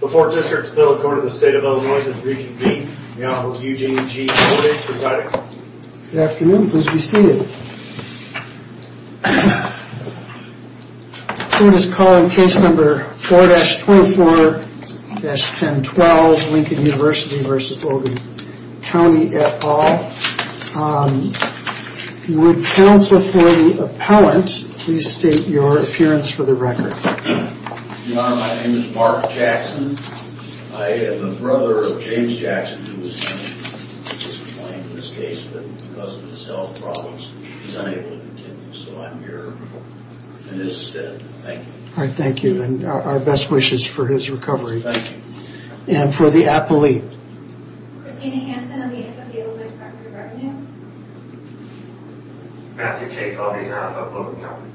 Before District Bill, the Court of the State of Illinois does reconvene. The Honorable Eugene G. Kovach presiding. Good afternoon, please be seated. The court is calling case number 4-24-1012, Lincoln University v. Logan County et al. If you would counsel for the appellant, please state your appearance for the record. Your Honor, my name is Mark Jackson. I am the brother of James Jackson, who was sentenced to discipline in this case, but because of his health problems, he's unable to continue. So I'm here in his stead. Thank you. All right, thank you. And our best wishes for his recovery. Thank you. And for the appellate. Christina Hansen, I'm the head of the Illinois Department of Revenue. Matthew Cate, on behalf of Logan County.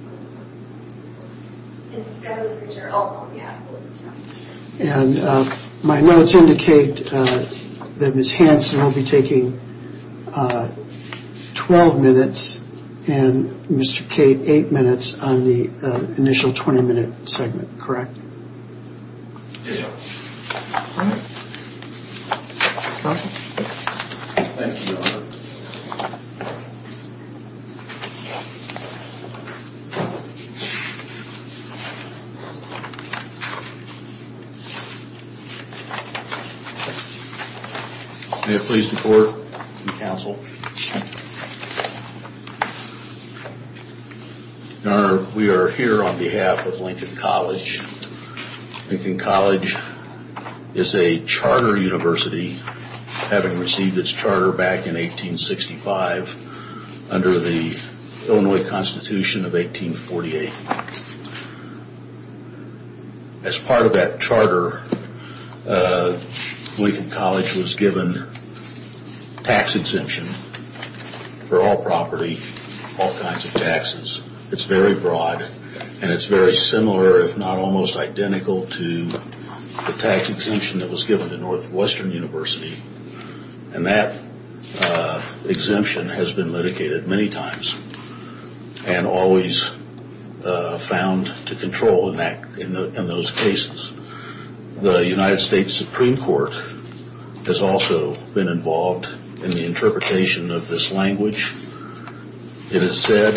And my notes indicate that Ms. Hansen will be taking 12 minutes and Mr. Cate 8 minutes on the initial 20-minute segment, correct? Yes, Your Honor. Thank you, Your Honor. Thank you. May it please the court and counsel. Your Honor, we are here on behalf of Lincoln College. Lincoln College is a charter university, having received its charter back in 1865 under the Illinois Constitution of 1848. As part of that charter, Lincoln College was given tax exemption for all property, all kinds of taxes. It's very broad and it's very similar, if not almost identical, to the tax exemption that was given to Northwestern University. And that exemption has been litigated many times and always found to control in those cases. The United States Supreme Court has also been involved in the interpretation of this language. It has said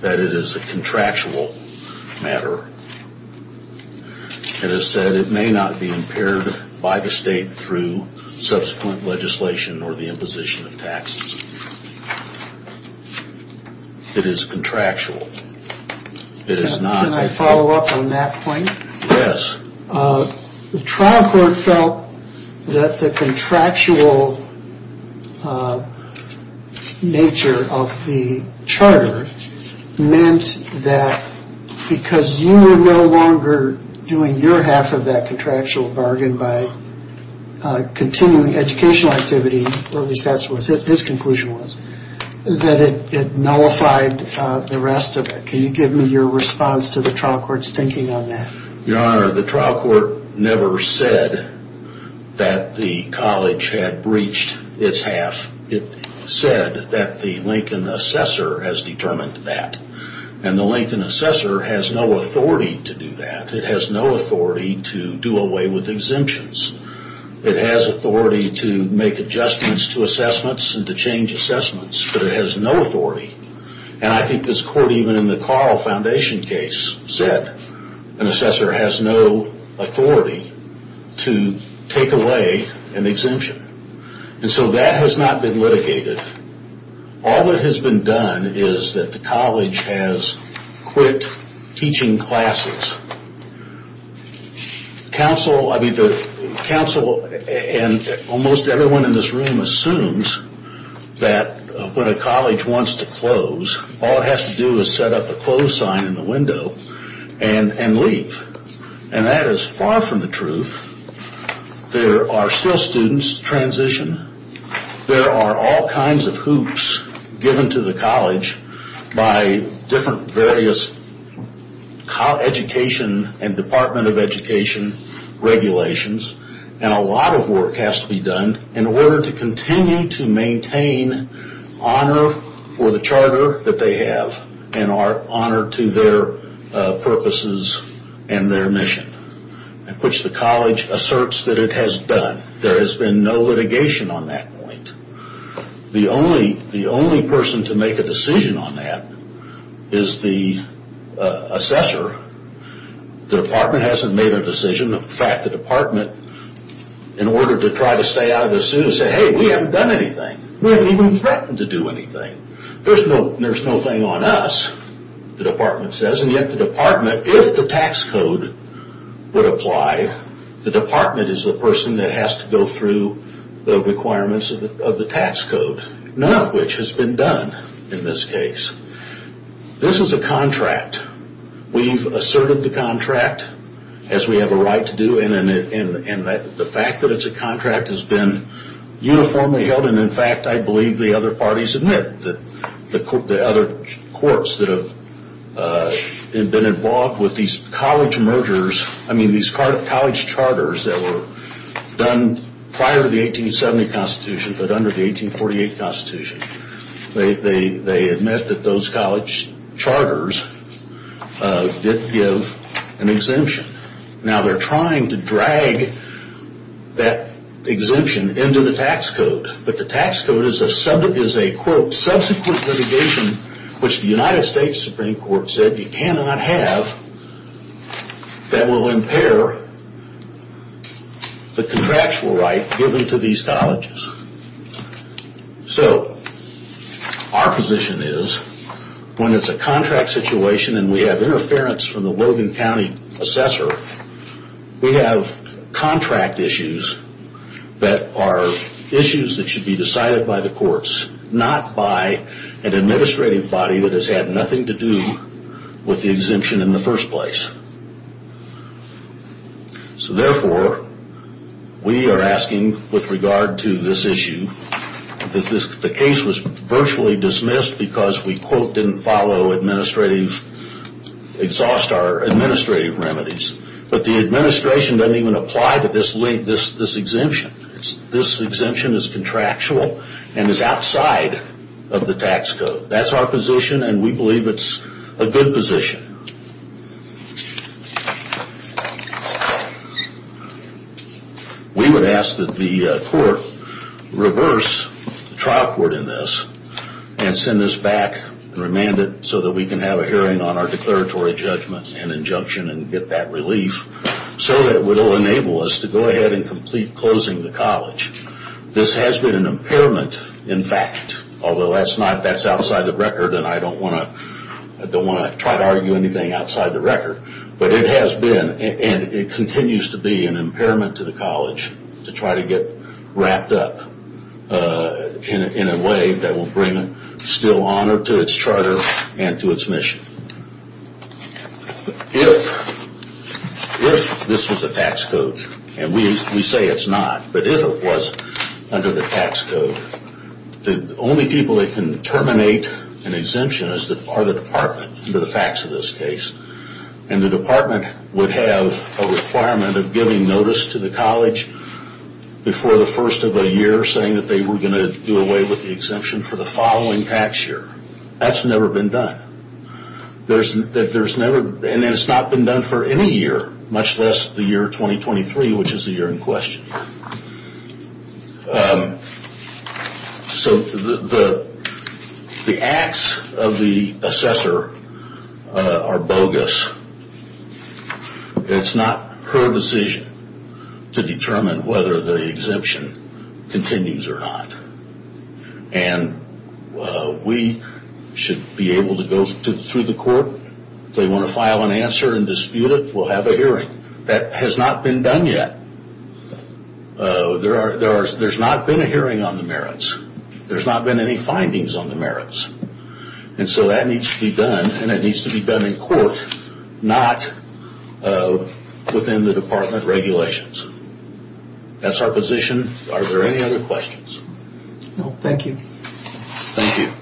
that it is a contractual matter. It has said it may not be impaired by the state through subsequent legislation or the imposition of taxes. It is contractual. Can I follow up on that point? Yes. The trial court felt that the contractual nature of the charter meant that because you were no longer doing your half of that contractual bargain by continuing educational activity, or at least that's what his conclusion was, that it nullified the rest of it. Can you give me your response to the trial court's thinking on that? Your Honor, the trial court never said that the college had breached its half. It said that the Lincoln assessor has determined that. And the Lincoln assessor has no authority to do that. It has no authority to do away with exemptions. It has authority to make adjustments to assessments and to change assessments, but it has no authority. And I think this court, even in the Carl Foundation case, said an assessor has no authority to take away an exemption. And so that has not been litigated. All that has been done is that the college has quit teaching classes. Counsel and almost everyone in this room assumes that when a college wants to close, all it has to do is set up a close sign in the window and leave. And that is far from the truth. There are still students transitioning. There are all kinds of hoops given to the college by different various education and Department of Education regulations, and a lot of work has to be done in order to continue to maintain honor for the charter that they have and are honored to their purposes and their mission, which the college asserts that it has done. There has been no litigation on that point. The only person to make a decision on that is the assessor. The department hasn't made a decision. In fact, the department, in order to try to stay out of this suit, has said, hey, we haven't done anything. We haven't even threatened to do anything. There's no thing on us, the department says, and yet the department, if the tax code would apply, the department is the person that has to go through the requirements of the tax code, none of which has been done in this case. This is a contract. We've asserted the contract, as we have a right to do, and the fact that it's a contract has been uniformly held, and, in fact, I believe the other parties admit, the other courts that have been involved with these college mergers, I mean these college charters that were done prior to the 1870 Constitution, but under the 1848 Constitution, they admit that those college charters did give an exemption. Now, they're trying to drag that exemption into the tax code, but the tax code is a quote, subsequent litigation, which the United States Supreme Court said you cannot have. That will impair the contractual right given to these colleges. So, our position is, when it's a contract situation and we have interference from the Logan County Assessor, we have contract issues that are issues that should be decided by the courts, not by an administrative body that has had nothing to do with the exemption in the first place. So, therefore, we are asking, with regard to this issue, that the case was virtually dismissed because we, quote, didn't follow administrative, exhaust our administrative remedies, but the administration doesn't even apply to this exemption. This exemption is contractual and is outside of the tax code. That's our position, and we believe it's a good position. We would ask that the court reverse the trial court in this and send this back remanded so that we can have a hearing on our declaratory judgment and injunction and get that relief so that it will enable us to go ahead and complete closing the college. This has been an impairment, in fact, although that's outside the record, and I don't want to try to argue anything outside the record, but it has been and it continues to be an impairment to the college to try to get wrapped up in a way that will bring still honor to its charter and to its mission. If this was a tax code, and we say it's not, but if it was under the tax code, the only people that can terminate an exemption are the department, under the facts of this case, and the department would have a requirement of giving notice to the college before the first of a year saying that they were going to do away with the exemption for the following tax year. That's never been done, and it's not been done for any year, much less the year 2023, which is the year in question. So the acts of the assessor are bogus. It's not her decision to determine whether the exemption continues or not, and we should be able to go through the court. If they want to file an answer and dispute it, we'll have a hearing. That has not been done yet. There's not been a hearing on the merits. There's not been any findings on the merits, and so that needs to be done, and it needs to be done in court, not within the department regulations. That's our position. Are there any other questions? No, thank you. Thank you.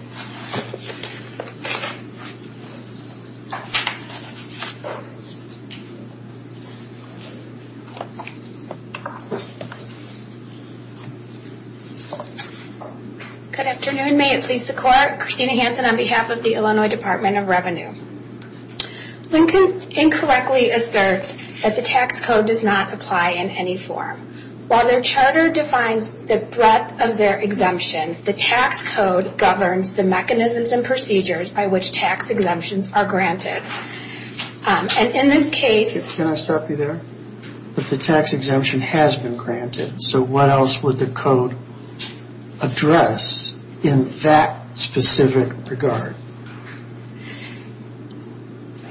Good afternoon. May it please the Court. Christina Hansen on behalf of the Illinois Department of Revenue. Lincoln incorrectly asserts that the tax code does not apply in any form. While their charter defines the breadth of their exemption, the tax code governs the mechanisms and procedures by which tax exemptions are granted. And in this case... Can I stop you there? But the tax exemption has been granted, so what else would the code address in that specific regard?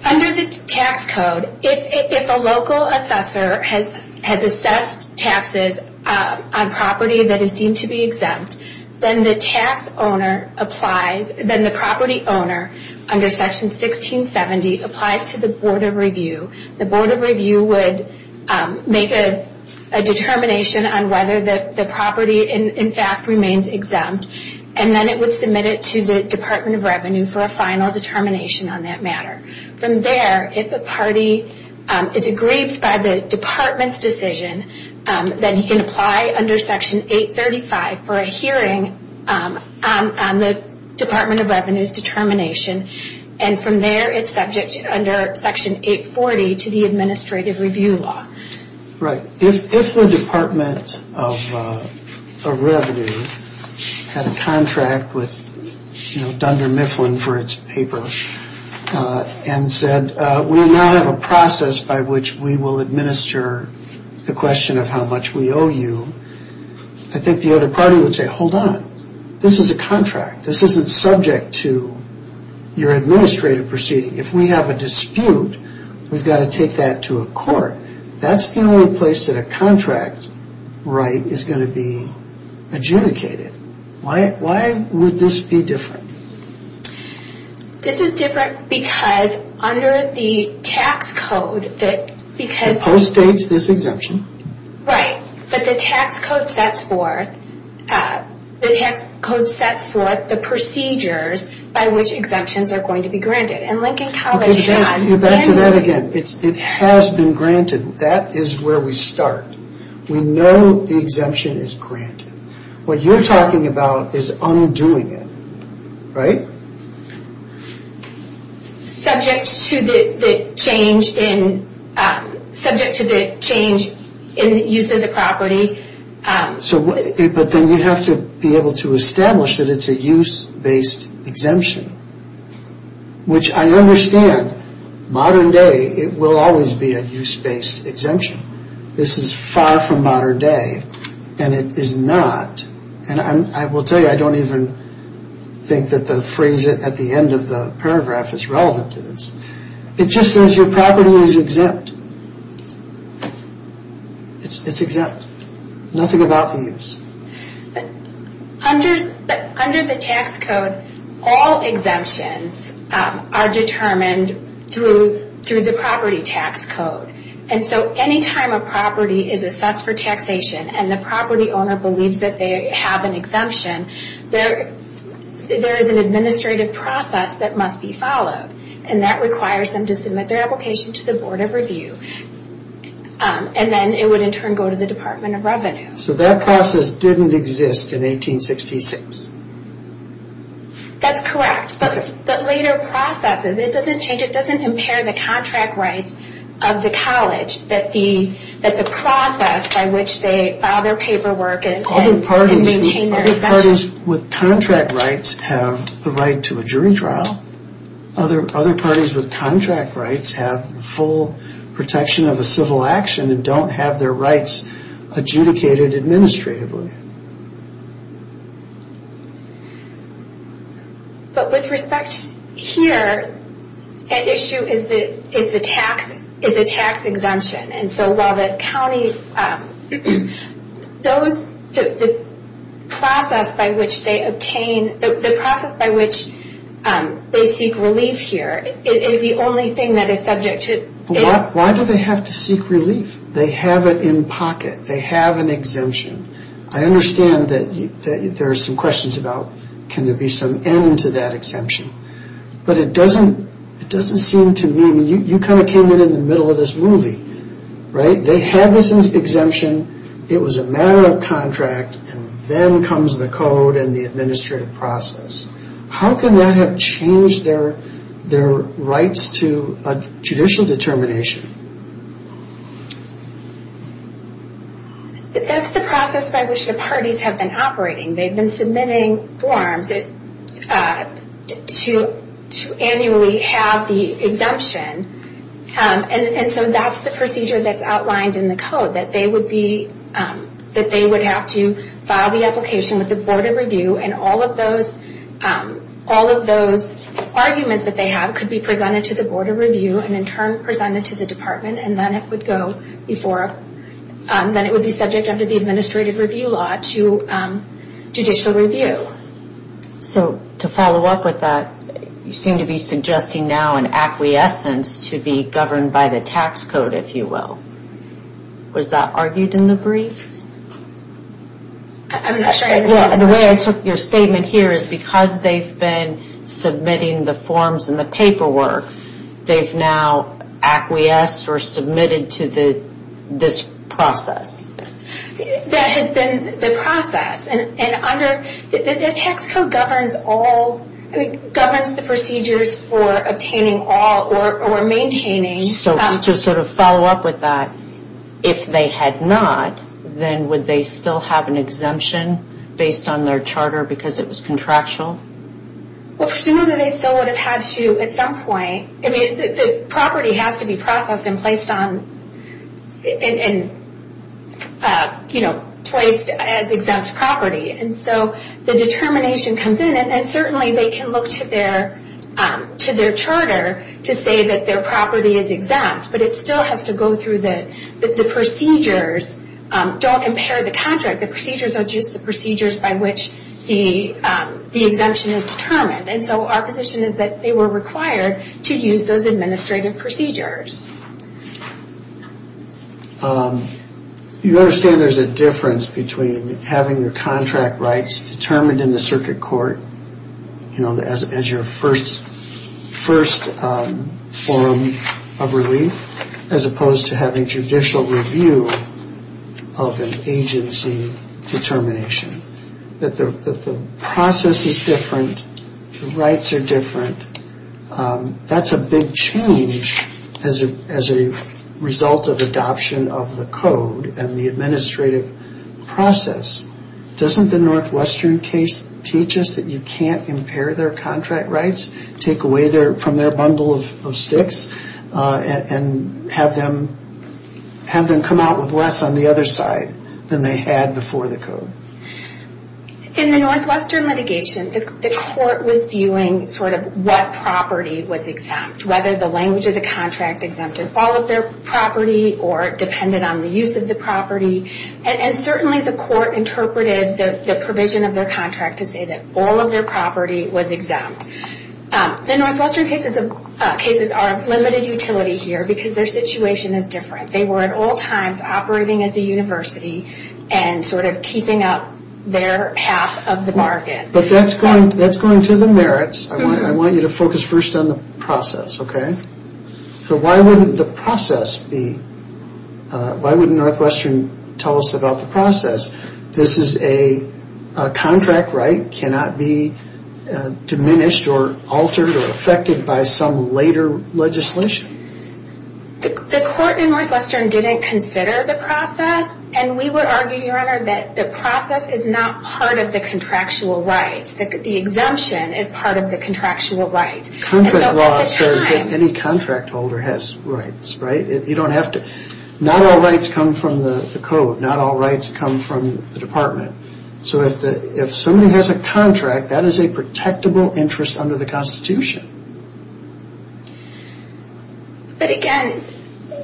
Under the tax code, if a local assessor has assessed taxes on property that is deemed to be exempt, then the property owner under Section 1670 applies to the Board of Review. The Board of Review would make a determination on whether the property in fact remains exempt, and then it would submit it to the Department of Revenue for a final determination on that matter. From there, if a party is aggrieved by the Department's decision, then he can apply under Section 835 for a hearing on the Department of Revenue's determination, and from there it's subject under Section 840 to the Administrative Review Law. Right. If the Department of Revenue had a contract with Dunder Mifflin for its paper and said, we now have a process by which we will administer the question of how much we owe you, I think the other party would say, hold on, this is a contract. This isn't subject to your administrative proceeding. If we have a dispute, we've got to take that to a court. That's the only place that a contract right is going to be adjudicated. Why would this be different? This is different because under the tax code, the post states this exemption. Right, but the tax code sets forth the procedures by which exemptions are going to be granted, and Lincoln College has... Let's get back to that again. It has been granted. That is where we start. We know the exemption is granted. What you're talking about is undoing it, right? Subject to the change in the use of the property. But then you have to be able to establish that it's a use-based exemption, which I understand. Modern day, it will always be a use-based exemption. This is far from modern day, and it is not. And I will tell you, I don't even think that the phrase at the end of the paragraph is relevant to this. It just says your property is exempt. It's exempt. Nothing about the use. But under the tax code, all exemptions are determined through the property tax code. And so any time a property is assessed for taxation and the property owner believes that they have an exemption, there is an administrative process that must be followed, and that requires them to submit their application to the Board of Review, and then it would in turn go to the Department of Revenue. So that process didn't exist in 1866. That's correct. But later processes, it doesn't change. It doesn't impair the contract rights of the college, that the process by which they file their paperwork and maintain their exemption. Other parties with contract rights have the right to a jury trial. Other parties with contract rights have full protection of a civil action and don't have their rights adjudicated administratively. But with respect here, an issue is the tax exemption. And so while the county, the process by which they obtain, the process by which they seek relief here is the only thing that is subject to... Why do they have to seek relief? They have it in pocket. They have an exemption. I understand that there are some questions about, can there be some end to that exemption? But it doesn't seem to me... I mean, you kind of came in in the middle of this movie, right? They had this exemption. It was a matter of contract, and then comes the code and the administrative process. How can that have changed their rights to a judicial determination? That's the process by which the parties have been operating. They've been submitting forms to annually have the exemption. And so that's the procedure that's outlined in the code, that they would have to file the application with the Board of Review and all of those arguments that they have could be presented to the Board of Review and in turn presented to the department, and then it would go before... then it would be subject under the administrative review law to judicial review. So to follow up with that, you seem to be suggesting now an acquiescence to be governed by the tax code, if you will. Was that argued in the briefs? I'm not sure I understand the question. The way I took your statement here is because they've been submitting the forms and the paperwork, they've now acquiesced or submitted to this process. That has been the process. And under...the tax code governs all... governs the procedures for obtaining all or maintaining... So to sort of follow up with that, if they had not, then would they still have an exemption based on their charter because it was contractual? Well, presumably they still would have had to at some point. I mean, the property has to be processed and placed on... and, you know, placed as exempt property. And so the determination comes in, and certainly they can look to their charter to say that their property is exempt, but it still has to go through the procedures. Don't impair the contract. The procedures are just the procedures by which the exemption is determined. And so our position is that they were required to use those administrative procedures. You understand there's a difference between having your contract rights determined in the circuit court, you know, as your first form of relief, as opposed to having judicial review of an agency determination. That the process is different. The rights are different. That's a big change as a result of adoption of the code and the administrative process. Doesn't the Northwestern case teach us that you can't impair their contract rights, take away from their bundle of sticks, and have them come out with less on the other side than they had before the code? In the Northwestern litigation, the court was viewing sort of what property was exempt, whether the language of the contract exempted all of their property or it depended on the use of the property. And certainly the court interpreted the provision of their contract to say that all of their property was exempt. The Northwestern cases are of limited utility here because their situation is different. They were at all times operating as a university and sort of keeping up their half of the market. But that's going to the merits. I want you to focus first on the process, okay? So why wouldn't the process be? Why wouldn't Northwestern tell us about the process? This is a contract right. It cannot be diminished or altered or affected by some later legislation. The court in Northwestern didn't consider the process. And we would argue, Your Honor, that the process is not part of the contractual rights. The exemption is part of the contractual rights. Contract law says that any contract holder has rights, right? You don't have to. Not all rights come from the code. Not all rights come from the department. So if somebody has a contract, that is a protectable interest under the Constitution. But again,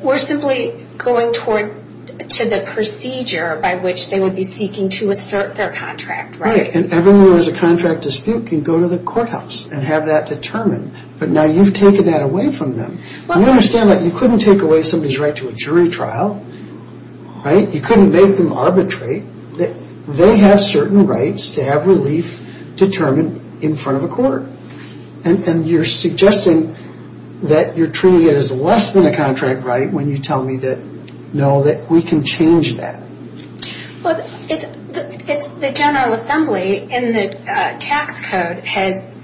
we're simply going to the procedure by which they would be seeking to assert their contract, right? And everyone who has a contract dispute can go to the courthouse and have that determined. But now you've taken that away from them. You understand that you couldn't take away somebody's right to a jury trial, right? You couldn't make them arbitrate. They have certain rights to have relief determined in front of a court. And you're suggesting that you're treating it as less than a contract right when you tell me that, no, that we can change that. Well, it's the General Assembly in the tax code has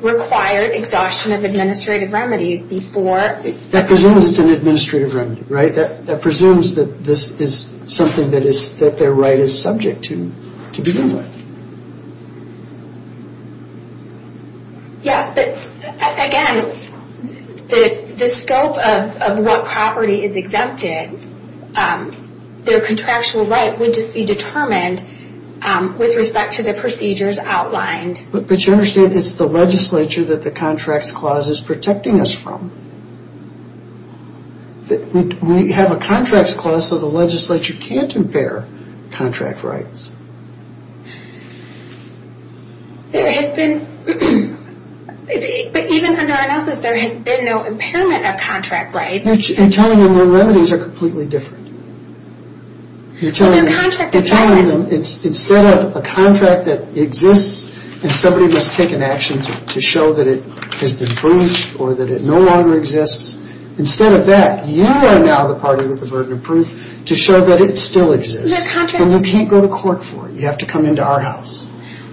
required exhaustion of administrative remedies before. That presumes it's an administrative remedy, right? That presumes that this is something that their right is subject to, to begin with. Yes, but again, the scope of what property is exempted, their contractual right would just be determined with respect to the procedures outlined. But you understand it's the legislature that the Contracts Clause is protecting us from. We have a Contracts Clause so the legislature can't impair contract rights. There has been, but even under our analysis there has been no impairment of contract rights. You're telling them their remedies are completely different. You're telling them instead of a contract that exists and somebody must take an action to show that it has been proofed or that it no longer exists. Instead of that, you are now the party with the burden of proof to show that it still exists. But you can't go to court for it. You have to come into our house.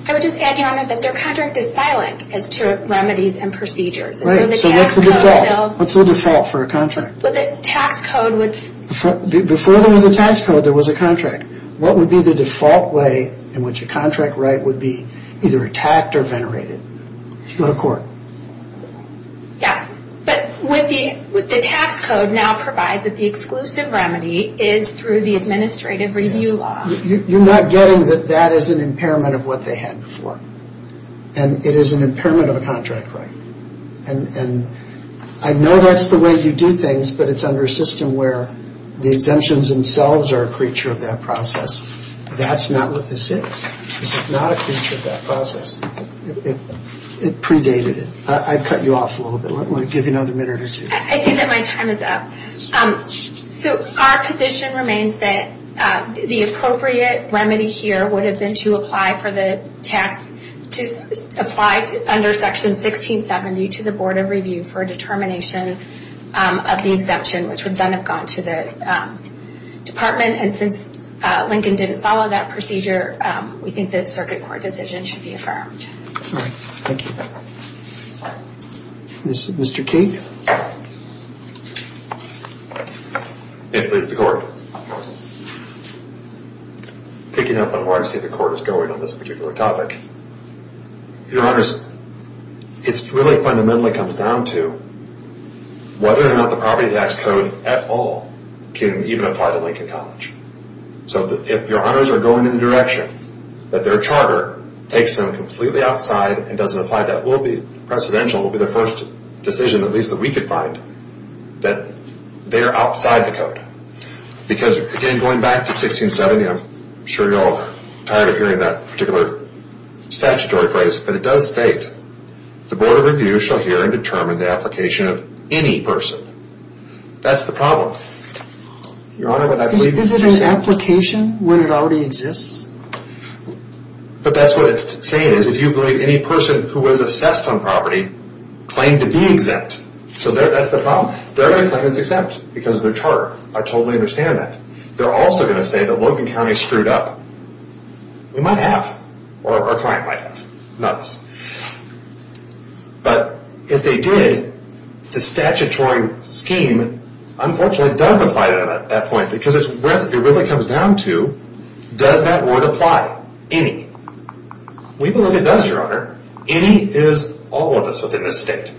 I would just add, Your Honor, that their contract is silent as to remedies and procedures. So what's the default for a contract? Before there was a tax code, there was a contract. What would be the default way in which a contract right would be either attacked or venerated? If you go to court. Yes, but the tax code now provides that the exclusive remedy is through the administrative review law. You're not getting that that is an impairment of what they had before. And it is an impairment of a contract right. And I know that's the way you do things, but it's under a system where the exemptions themselves are a creature of that process. That's not what this is. This is not a creature of that process. It predated it. I cut you off a little bit. I want to give you another minute or two. I see that my time is up. So our position remains that the appropriate remedy here would have been to apply for the tax, to apply under Section 1670 to the Board of Review for a determination of the exemption, which would then have gone to the department. And since Lincoln didn't follow that procedure, we think the circuit court decision should be affirmed. All right. Thank you. Mr. Cate. It is the court. Picking up on where I see the court is going on this particular topic, Your Honors, it really fundamentally comes down to whether or not the property tax code at all can even apply to Lincoln College. So if Your Honors are going in the direction that their charter takes them completely outside and doesn't apply, that will be precedential, will be the first decision, at least that we could find, that they are outside the code. Because, again, going back to 1670, I'm sure you're all tired of hearing that particular statutory phrase, but it does state, The Board of Review shall hear and determine the application of any person. That's the problem. Is it an application when it already exists? But that's what it's saying is if you believe any person who was assessed on property claimed to be exempt. So that's the problem. They're going to claim it's exempt because of their charter. I totally understand that. They're also going to say that Logan County screwed up. We might have, or our client might have. Not us. But if they did, the statutory scheme, unfortunately, does apply to them at that point because it really comes down to, does that word apply? Any. We believe it does, Your Honor. Any is all of us within this state.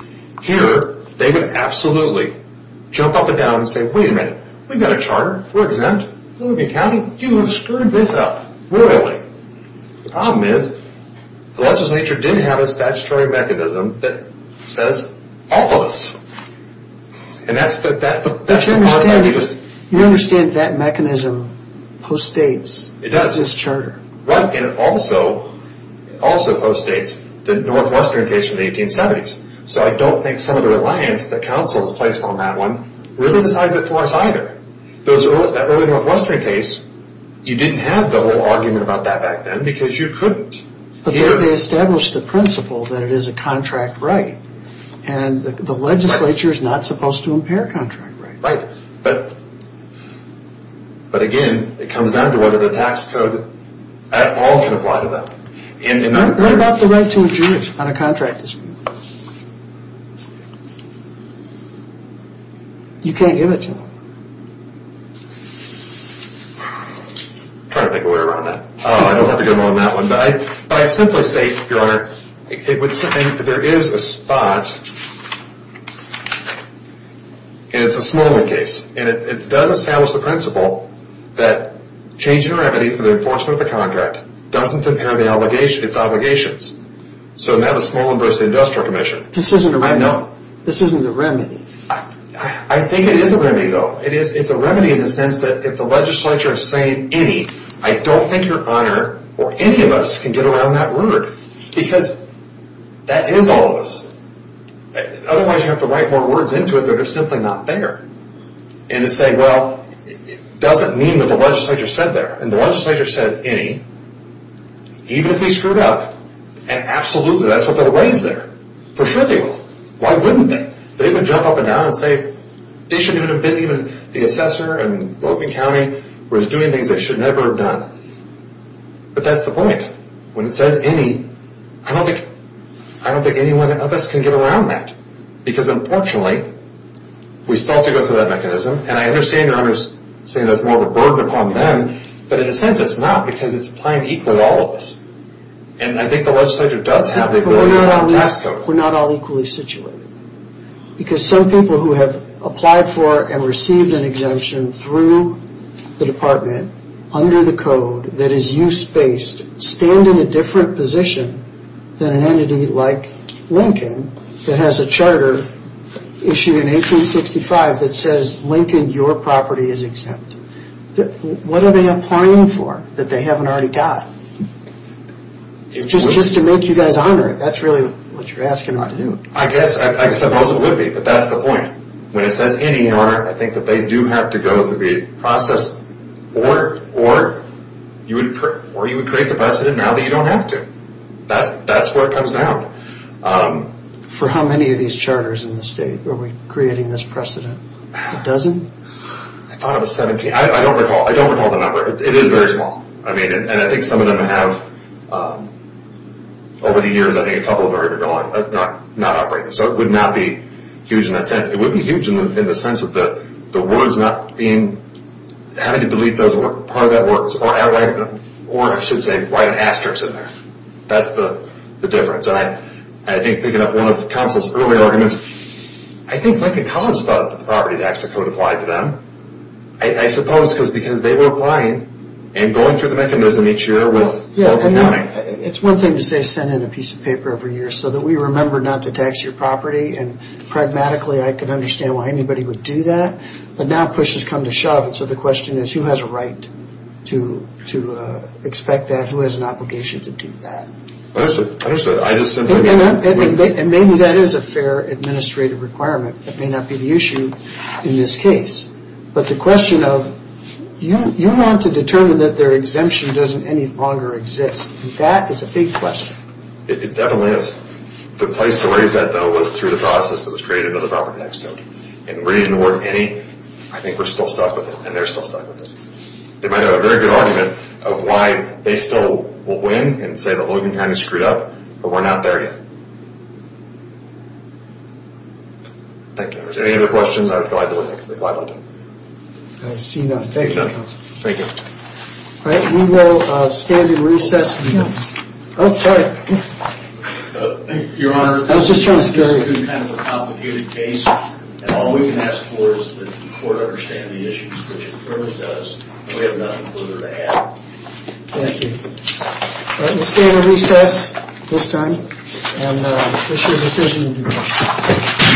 Here, they would absolutely jump up and down and say, wait a minute. We've got a charter. We're exempt. Logan County, you have screwed this up. Royally. The problem is the legislature did have a statutory mechanism that says all of us. And that's the part I just... But you understand that mechanism postdates this charter. Right, and it also postdates the Northwestern case from the 1870s. So I don't think some of the reliance that counsel has placed on that one really decides it for us either. That early Northwestern case, you didn't have the whole argument about that back then because you couldn't hear... But they established the principle that it is a contract right. And the legislature is not supposed to impair contract rights. Right, but again, it comes down to whether the tax code at all can apply to them. What about the right to adjourn on a contract dispute? You can't give it to them. I'm trying to think of a way around that. I don't have a good one on that one, but I'd simply say, Your Honor, it would say that there is a spot, and it's a Smallwood case. And it does establish the principle that changing a remedy for the enforcement of a contract doesn't impair its obligations. So that was Smallwood versus the Industrial Commission. This isn't a remedy. I think it is a remedy though. It's a remedy in the sense that if the legislature is saying any, I don't think Your Honor or any of us can get around that rude. Because that is all of us. Otherwise you have to write more words into it that are simply not there. And to say, well, it doesn't mean what the legislature said there. And the legislature said any, even if we screwed up, and absolutely that's what they'll raise there. For sure they will. Why wouldn't they? They would jump up and down and say, they shouldn't even have been the assessor in Logan County who was doing things they should never have done. But that's the point. When it says any, I don't think any one of us can get around that. Because unfortunately, we still have to go through that mechanism. And I understand Your Honor's saying that's more of a burden upon them. But in a sense, it's not because it's applying equally to all of us. And I think the legislature does have the ability to pass a code. We're not all equally situated. Because some people who have applied for and received an exemption through the department, under the code that is use-based, stand in a different position than an entity like Lincoln that has a charter issued in 1865 that says, Lincoln, your property is exempt. What are they applying for that they haven't already got? Just to make you guys honor it, that's really what you're asking them to do. I guess, I suppose it would be. But that's the point. When it says any, Your Honor, I think that they do have to go through the process or you would create the precedent now that you don't have to. That's where it comes down. For how many of these charters in the state are we creating this precedent? A dozen? I thought it was 17. I don't recall the number. It is very small. And I think some of them have, over the years, I think a couple of them are going, not operating. So it would not be huge in that sense. It would be huge in the sense that the words not being, having to delete part of that word, or I should say write an asterisk in there. That's the difference. And I think picking up one of the counsel's earlier arguments, I think Lincoln College thought that the property tax code applied to them. I suppose because they were applying and going through the mechanism each year with open counting. It's one thing to say send in a piece of paper every year so that we remember not to tax your property. And pragmatically, I can understand why anybody would do that. But now push has come to shove. And so the question is who has a right to expect that? Who has an obligation to do that? I understand. And maybe that is a fair administrative requirement. That may not be the issue in this case. But the question of, you want to determine that their exemption doesn't any longer exist. That is a big question. It definitely is. The place to raise that, though, was through the process that was created by the property tax code. And we didn't award any. I think we're still stuck with it. And they're still stuck with it. They might have a very good argument of why they still will win and say that Lincoln County screwed up. But we're not there yet. Thank you. If there's any other questions, I would go ahead and let them. I see none. Thank you, counsel. Thank you. All right. We will stand and recess. Oh, sorry. Your Honor. I was just trying to scare you. We're doing kind of a complicated case. And all we can ask for is that the court understand the issues, which it certainly does. And we have nothing further to add. Thank you. All right. We'll stand and recess this time. And issue a decision in due course.